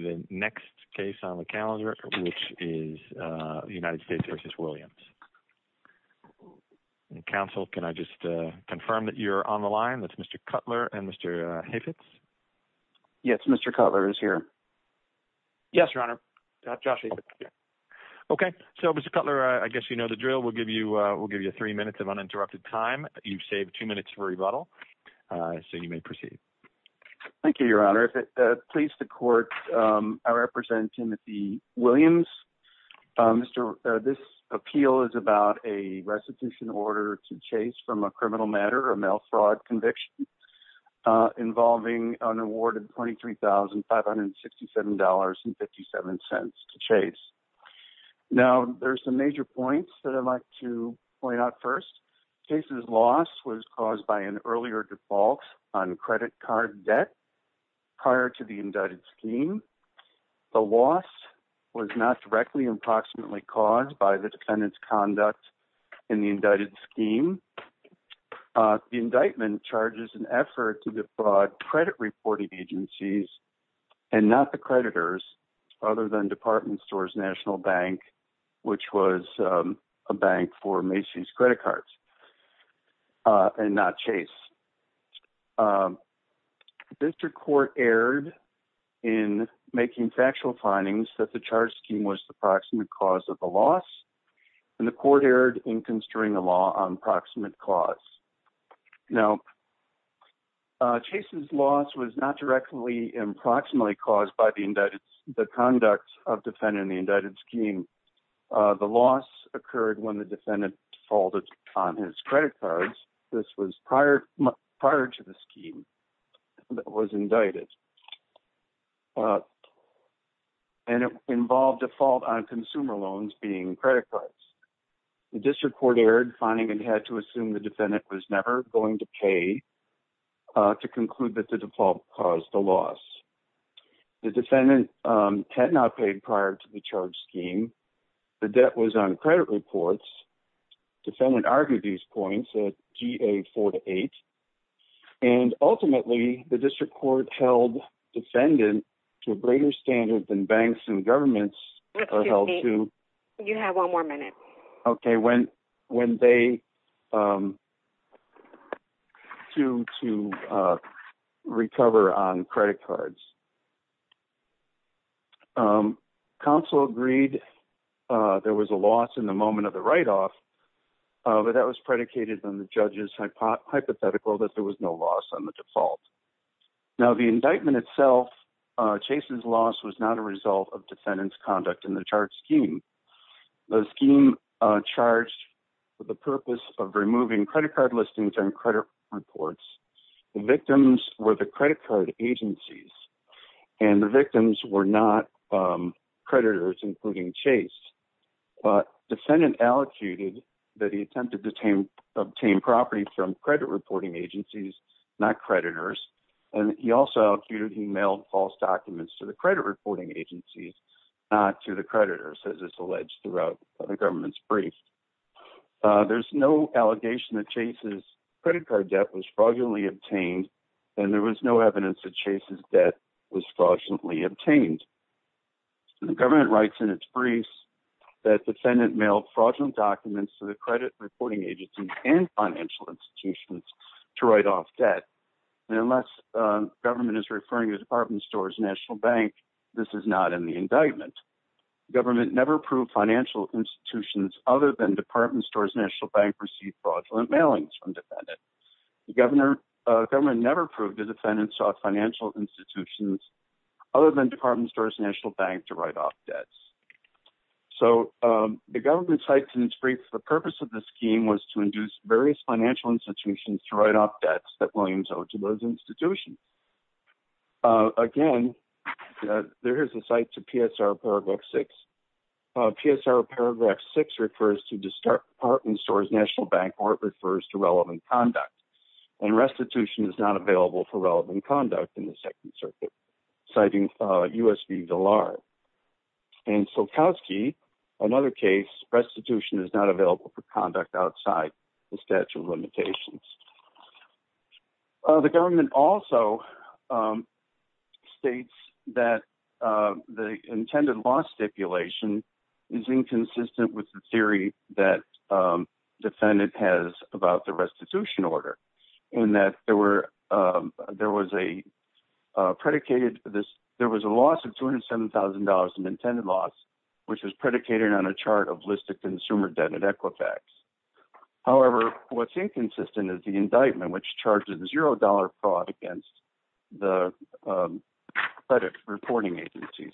Mr. Cutler, I guess you know the drill. We'll give you 3 minutes of uninterrupted time. You've saved 2 minutes for rebuttal, so you may proceed. Thank you, Your Honor. If it pleases the Court, I represent Timothy Williams. This appeal is about a restitution order to Chase from a criminal matter or mail fraud conviction involving an award of $23,567.57 to Chase. Now, there's some major points that I'd like to point out first. Chase's loss was caused by an earlier default on credit card debt prior to the indicted scheme. The loss was not directly or approximately caused by the defendant's conduct in the indicted scheme. The indictment charges an effort to defraud credit reporting agencies and not the creditors, other than Department Stores National Bank, which was a bank for Macy's Credit Cards, and not Chase. District Court erred in making factual findings that the charge scheme was the proximate cause of the loss, and the Court erred in construing a law on proximate cause. Now, Chase's loss was not directly or approximately caused by the conduct of the defendant in the indicted scheme. The loss occurred when the defendant defaulted on his credit cards. This was prior to the scheme that was indicted. And it involved default on consumer loans being credit cards. The District Court erred, finding it had to assume the defendant was never going to pay to conclude that the default caused the loss. The defendant had not paid prior to the charge scheme. The debt was on credit reports. Defendant argued these points at GA-4-8. And ultimately, the District Court held defendant to a greater standard than banks and governments are held to... Excuse me. You have one more minute. Okay. When they...to recover on credit cards. Counsel agreed there was a loss in the moment of the write-off, but that was predicated on the judge's hypothetical that there was no loss on the default. Now, the indictment itself, Chase's loss, was not a result of defendant's conduct in the charge scheme. The scheme charged for the purpose of removing credit card listings and credit reports. The victims were the credit card agencies. And the victims were not creditors, including Chase. But defendant allocated that he attempted to obtain property from credit reporting agencies, not creditors. And he also allocated he mailed false documents to the credit reporting agencies, not to the creditors, as is alleged throughout the government's brief. There's no allegation that Chase's credit card debt was fraudulently obtained, and there was no evidence that Chase's debt was fraudulently obtained. The government writes in its briefs that defendant mailed fraudulent documents to the credit reporting agencies and financial institutions to write off debt. And unless government is referring to Department Stores National Bank, this is not in the indictment. Government never approved financial institutions other than Department Stores National Bank received fraudulent mailings from defendant. The government never approved the defendant sought financial institutions other than Department Stores National Bank to write off debts. So the government cites in its brief the purpose of the scheme was to induce various financial institutions to write off debts that Williams owed to those institutions. Again, there is a cite to PSR Paragraph 6. PSR Paragraph 6 refers to Department Stores National Bank or it refers to relevant conduct. And restitution is not available for relevant conduct in the Second Circuit, citing U.S. v. Gillard. In Sulkowski, another case, restitution is not available for conduct outside the statute of limitations. The government also states that the intended loss stipulation is inconsistent with the theory that defendant has about the restitution order. In that there was a loss of $207,000 in intended loss, which was predicated on a chart of listed consumer debt at Equifax. However, what's inconsistent is the indictment, which charges $0 fraud against the credit reporting agencies.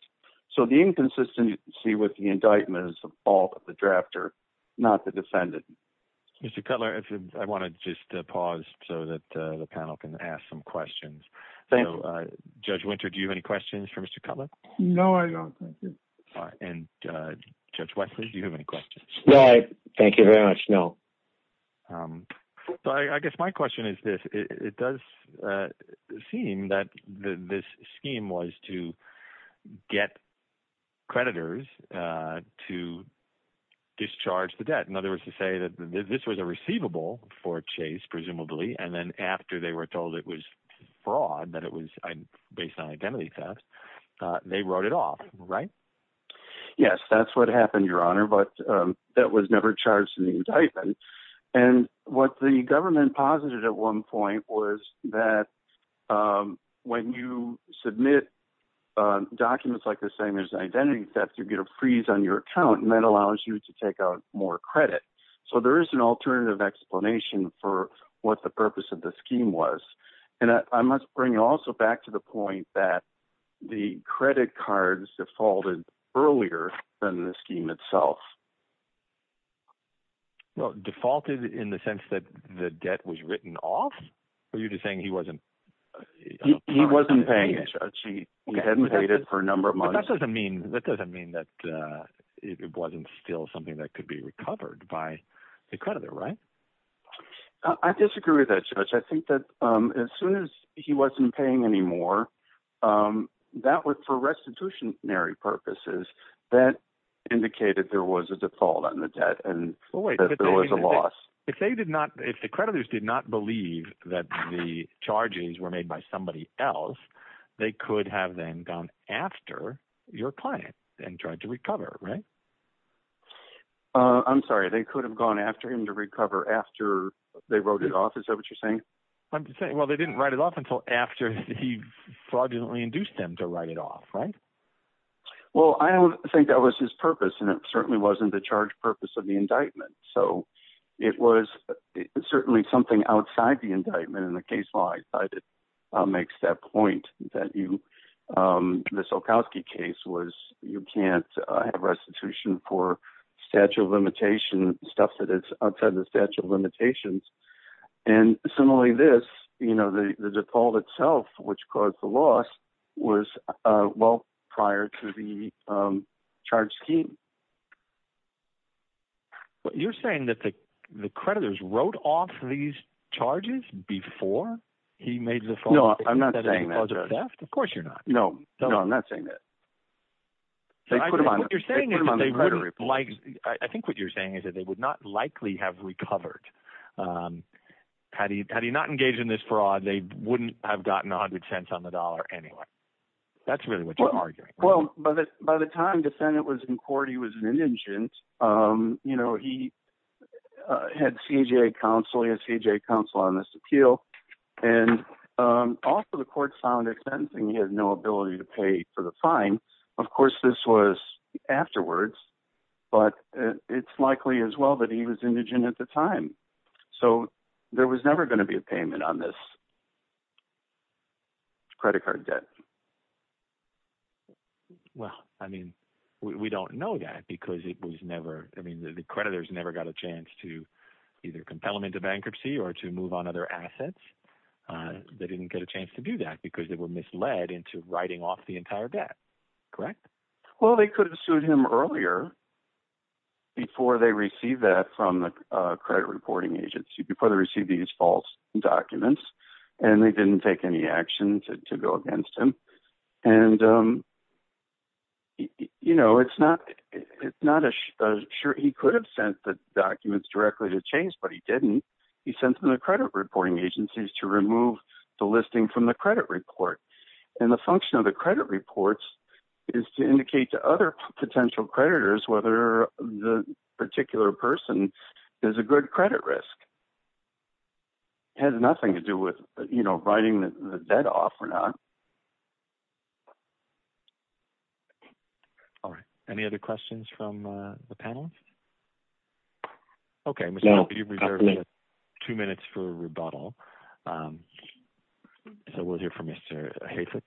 So the inconsistency with the indictment is the fault of the drafter, not the defendant. Mr. Cutler, I want to just pause so that the panel can ask some questions. Judge Winter, do you have any questions for Mr. Cutler? No, I don't. And Judge Wesley, do you have any questions? No, thank you very much. No. So I guess my question is this. It does seem that this scheme was to get creditors to discharge the debt. In other words, to say that this was a receivable for Chase presumably, and then after they were told it was fraud, that it was based on identity theft, they wrote it off, right? Yes, that's what happened, Your Honor. But that was never charged in the indictment. And what the government posited at one point was that when you submit documents like this saying there's an identity theft, you get a freeze on your account, and that allows you to take out more credit. So there is an alternative explanation for what the purpose of the scheme was. And I must bring also back to the point that the credit cards defaulted earlier than the scheme itself. Well, defaulted in the sense that the debt was written off? Are you just saying he wasn't – He wasn't paying it, Judge. He hadn't paid it for a number of months. That doesn't mean that it wasn't still something that could be recovered by the creditor, right? I disagree with that, Judge. I think that as soon as he wasn't paying anymore, that was for restitutionary purposes. That indicated there was a default on the debt and that there was a loss. If they did not – if the creditors did not believe that the charges were made by somebody else, they could have then gone after your client and tried to recover, right? I'm sorry. They could have gone after him to recover after they wrote it off? Is that what you're saying? I'm just saying, well, they didn't write it off until after he fraudulently induced them to write it off, right? Well, I don't think that was his purpose, and it certainly wasn't the charge purpose of the indictment. So it was certainly something outside the indictment in the case law. I thought it makes that point that you – the Sulkowski case was you can't have restitution for statute of limitations, stuff that is outside the statute of limitations. And similarly this, you know, the default itself, which caused the loss, was well prior to the charge scheme. Well, you're saying that the creditors wrote off these charges before he made the fraud? No, I'm not saying that. Of course you're not. No, I'm not saying that. I think what you're saying is that they wouldn't – I think what you're saying is that they would not likely have recovered. Had he not engaged in this fraud, they wouldn't have gotten 100 cents on the dollar anyway. That's really what you're arguing. Well, by the time the defendant was in court, he was an indigent. You know, he had CJA counsel. He had CJA counsel on this appeal. And also the court found at sentencing he had no ability to pay for the fine. Of course this was afterwards, but it's likely as well that he was indigent at the time. So there was never going to be a payment on this credit card debt. Well, I mean we don't know that because it was never – I mean the creditors never got a chance to either compel him into bankruptcy or to move on other assets. They didn't get a chance to do that because they were misled into writing off the entire debt. Correct? Well, they could have sued him earlier before they received that from the credit reporting agency, before they received these false documents. And they didn't take any action to go against him. And it's not – he could have sent the documents directly to Chase, but he didn't. He sent them to credit reporting agencies to remove the listing from the credit report. And the function of the credit reports is to indicate to other potential creditors whether the particular person is a good credit risk. It has nothing to do with writing the debt off or not. All right, any other questions from the panel? Okay, we're going to be reserving two minutes for rebuttal. So we'll hear from Mr. Hafetz.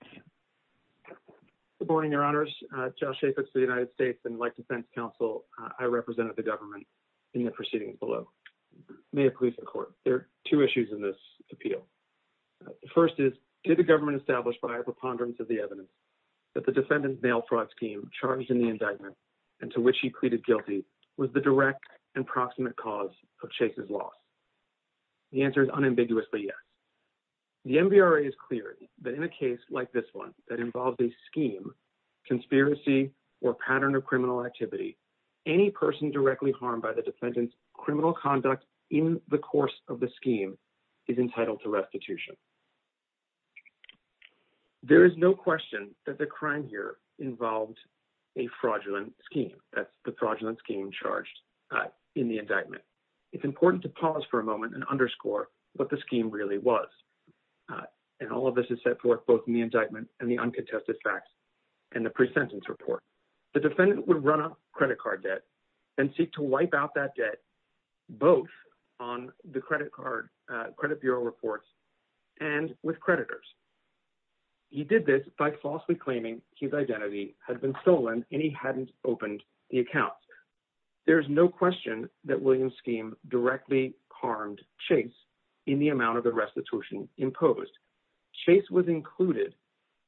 Good morning, Your Honors. Josh Hafetz for the United States and like defense counsel, I represent the government in the proceedings below. May it please the Court, there are two issues in this appeal. The first is, did the government establish by a preponderance of the evidence that the defendant's mail fraud scheme charged in the indictment and to which he pleaded guilty was the direct and proximate cause of Chase's loss? The answer is unambiguously yes. The MVRA is clear that in a case like this one that involves a scheme, conspiracy, or pattern of criminal activity, any person directly harmed by the defendant's criminal conduct in the course of the scheme is entitled to restitution. There is no question that the crime here involved a fraudulent scheme. That's the fraudulent scheme charged in the indictment. It's important to pause for a moment and underscore what the scheme really was. And all of this is set forth both in the indictment and the uncontested facts and the pre-sentence report. The defendant would run off credit card debt and seek to wipe out that debt both on the credit card, credit bureau reports, and with creditors. He did this by falsely claiming his identity had been stolen and he hadn't opened the account. There is no question that Williams' scheme directly harmed Chase in the amount of the restitution imposed. Chase was included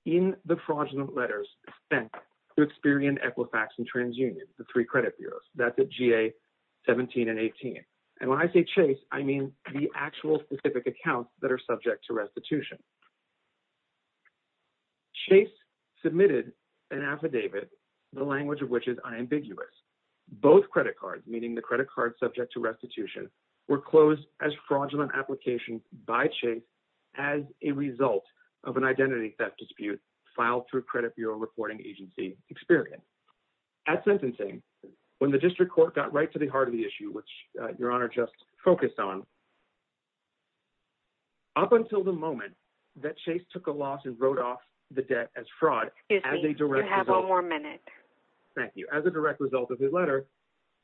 in the fraudulent letters sent to Experian, Equifax, and TransUnion, the three credit bureaus. That's at GA 17 and 18. And when I say Chase, I mean the actual specific accounts that are subject to restitution. Chase submitted an affidavit, the language of which is unambiguous. Both credit cards, meaning the credit card subject to restitution, were closed as fraudulent applications by Chase as a result of an identity theft dispute filed through credit bureau reporting agency Experian. At sentencing, when the district court got right to the heart of the issue, which Your Honor just focused on, up until the moment that Chase took a loss and wrote off the debt as fraud, as a direct result of his letter,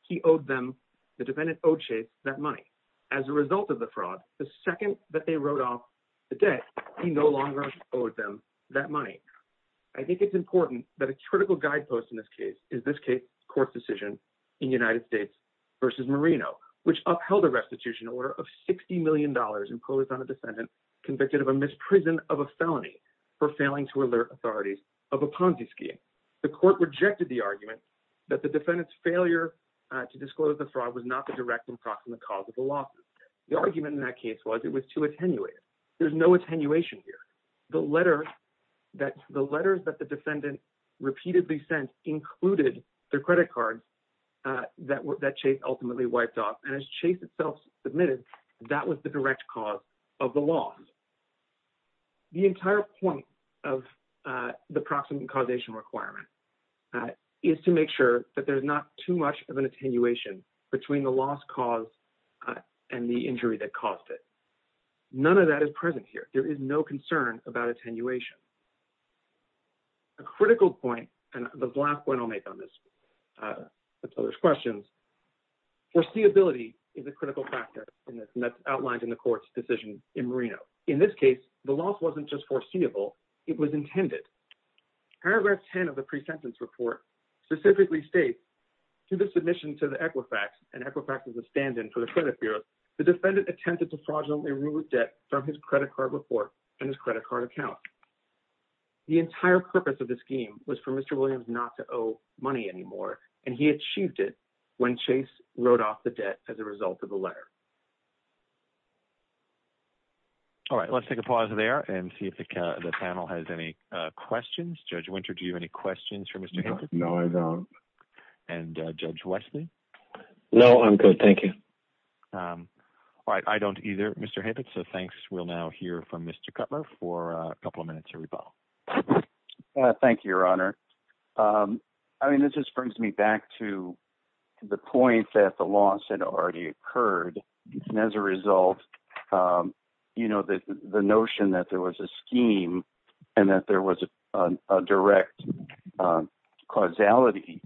he owed them, the defendant owed Chase that money. As a result of the fraud, the second that they wrote off the debt, he no longer owed them that money. I think it's important that a critical guidepost in this case is this court's decision in United States v. Merino, which upheld a restitution order of $60 million imposed on a defendant convicted of a misprison of a felony for failing to alert authorities of a Ponzi scheme. The court rejected the argument that the defendant's failure to disclose the fraud was not the direct and proximate cause of the losses. The argument in that case was it was too attenuated. There's no attenuation here. The letters that the defendant repeatedly sent included the credit cards that Chase ultimately wiped off. And as Chase itself submitted, that was the direct cause of the loss. The entire point of the proximate causation requirement is to make sure that there's not too much of an attenuation between the loss cause and the injury that caused it. None of that is present here. There is no concern about attenuation. A critical point, and the last point I'll make on this before there's questions, foreseeability is a critical factor in this, and that's outlined in the court's decision in Merino. In this case, the loss wasn't just foreseeable. It was intended. Paragraph 10 of the pre-sentence report specifically states, to the submission to the Equifax, and Equifax is a stand-in for the credit bureau, the defendant attempted to fraudulently remove debt from his credit card report and his credit card account. The entire purpose of the scheme was for Mr. Williams not to owe money anymore, and he achieved it when Chase wrote off the debt as a result of the letter. All right, let's take a pause there and see if the panel has any questions. Judge Winter, do you have any questions for Mr. Hibbert? No, I don't. And Judge Wesley? No, I'm good, thank you. All right, I don't either, Mr. Hibbert, so thanks. We'll now hear from Mr. Cutler for a couple of minutes of rebuttal. Thank you, Your Honor. I mean, this just brings me back to the point that the loss had already occurred, and as a result, you know, the notion that there was a scheme and that there was a direct causality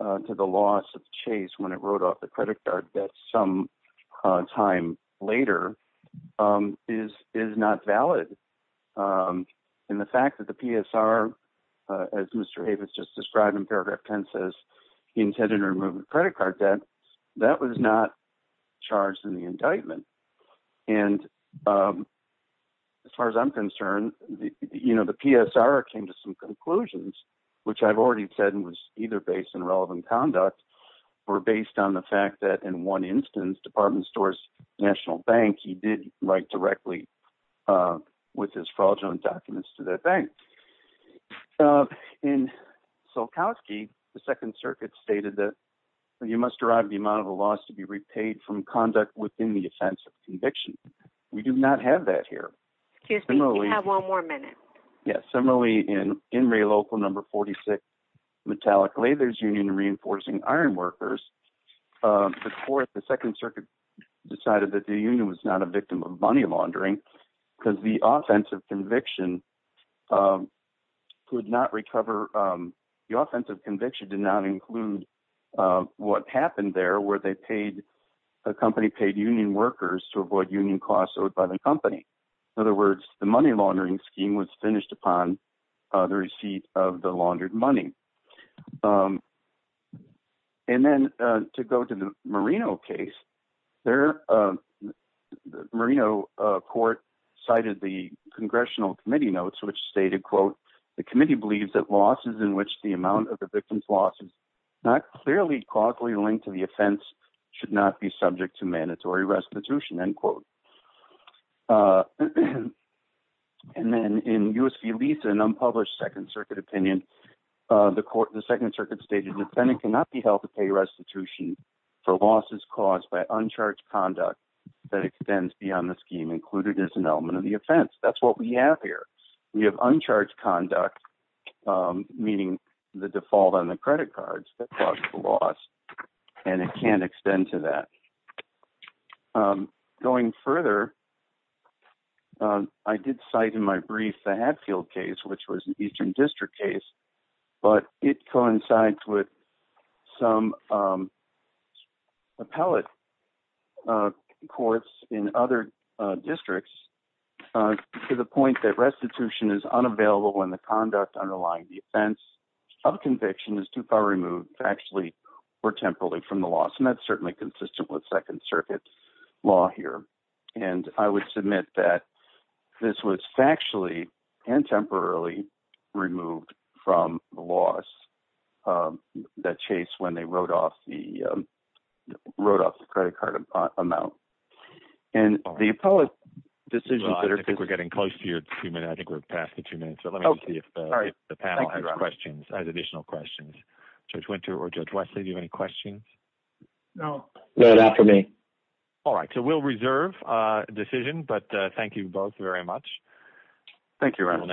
to the loss of Chase when it wrote off the credit card debt sometime later is not valid. And the fact that the PSR, as Mr. Hibbert just described in paragraph 10, says he intended to remove the credit card debt, that was not charged in the indictment. And as far as I'm concerned, you know, the PSR came to some conclusions, which I've already said was either based on relevant conduct or based on the fact that in one instance, Department Stores National Bank, he did write directly with his fraudulent documents to that bank. In Solkowski, the Second Circuit stated that you must derive the amount of the loss to be repaid from conduct within the offense of conviction. We do not have that here. Excuse me, you have one more minute. Yes, similarly, in In re local number 46 Metallic Lathers Union reinforcing iron workers, the court, the Second Circuit decided that the union was not a victim of money laundering because the offense of conviction could not recover. The offense of conviction did not include what happened there where they paid a company paid union workers to avoid union costs owed by the company. In other words, the money laundering scheme was finished upon the receipt of the laundered money. And then to go to the Marino case there. Marino court cited the Congressional Committee notes, which stated, quote, the committee believes that losses in which the amount of the victim's losses not clearly causally linked to the offense should not be subject to mandatory restitution, end quote. And then in USP Lisa, an unpublished Second Circuit opinion, the court, the Second Circuit stated the defendant cannot be held to pay restitution for losses caused by uncharged conduct that extends beyond the scheme included as an element of the offense. That's what we have here. We have uncharged conduct, meaning the default on the credit cards that caused the loss, and it can't extend to that. Going further, I did cite in my brief the Hatfield case, which was an Eastern District case, but it coincides with some appellate courts in other districts to the point that restitution is unavailable when the conduct underlying the offense of conviction is too far removed, actually, or temporarily from the law. And that's certainly consistent with Second Circuit law here. And I would submit that this was factually and temporarily removed from the laws that chase when they wrote off the wrote off the credit card amount. And the appellate decision, I think we're getting close to your treatment. I think we're past the two minutes. So let me see if the panel has questions as additional questions. Judge Winter or Judge Wesley, do you have any questions? No, not for me. All right. So we'll reserve decision. But thank you both very much. Thank you.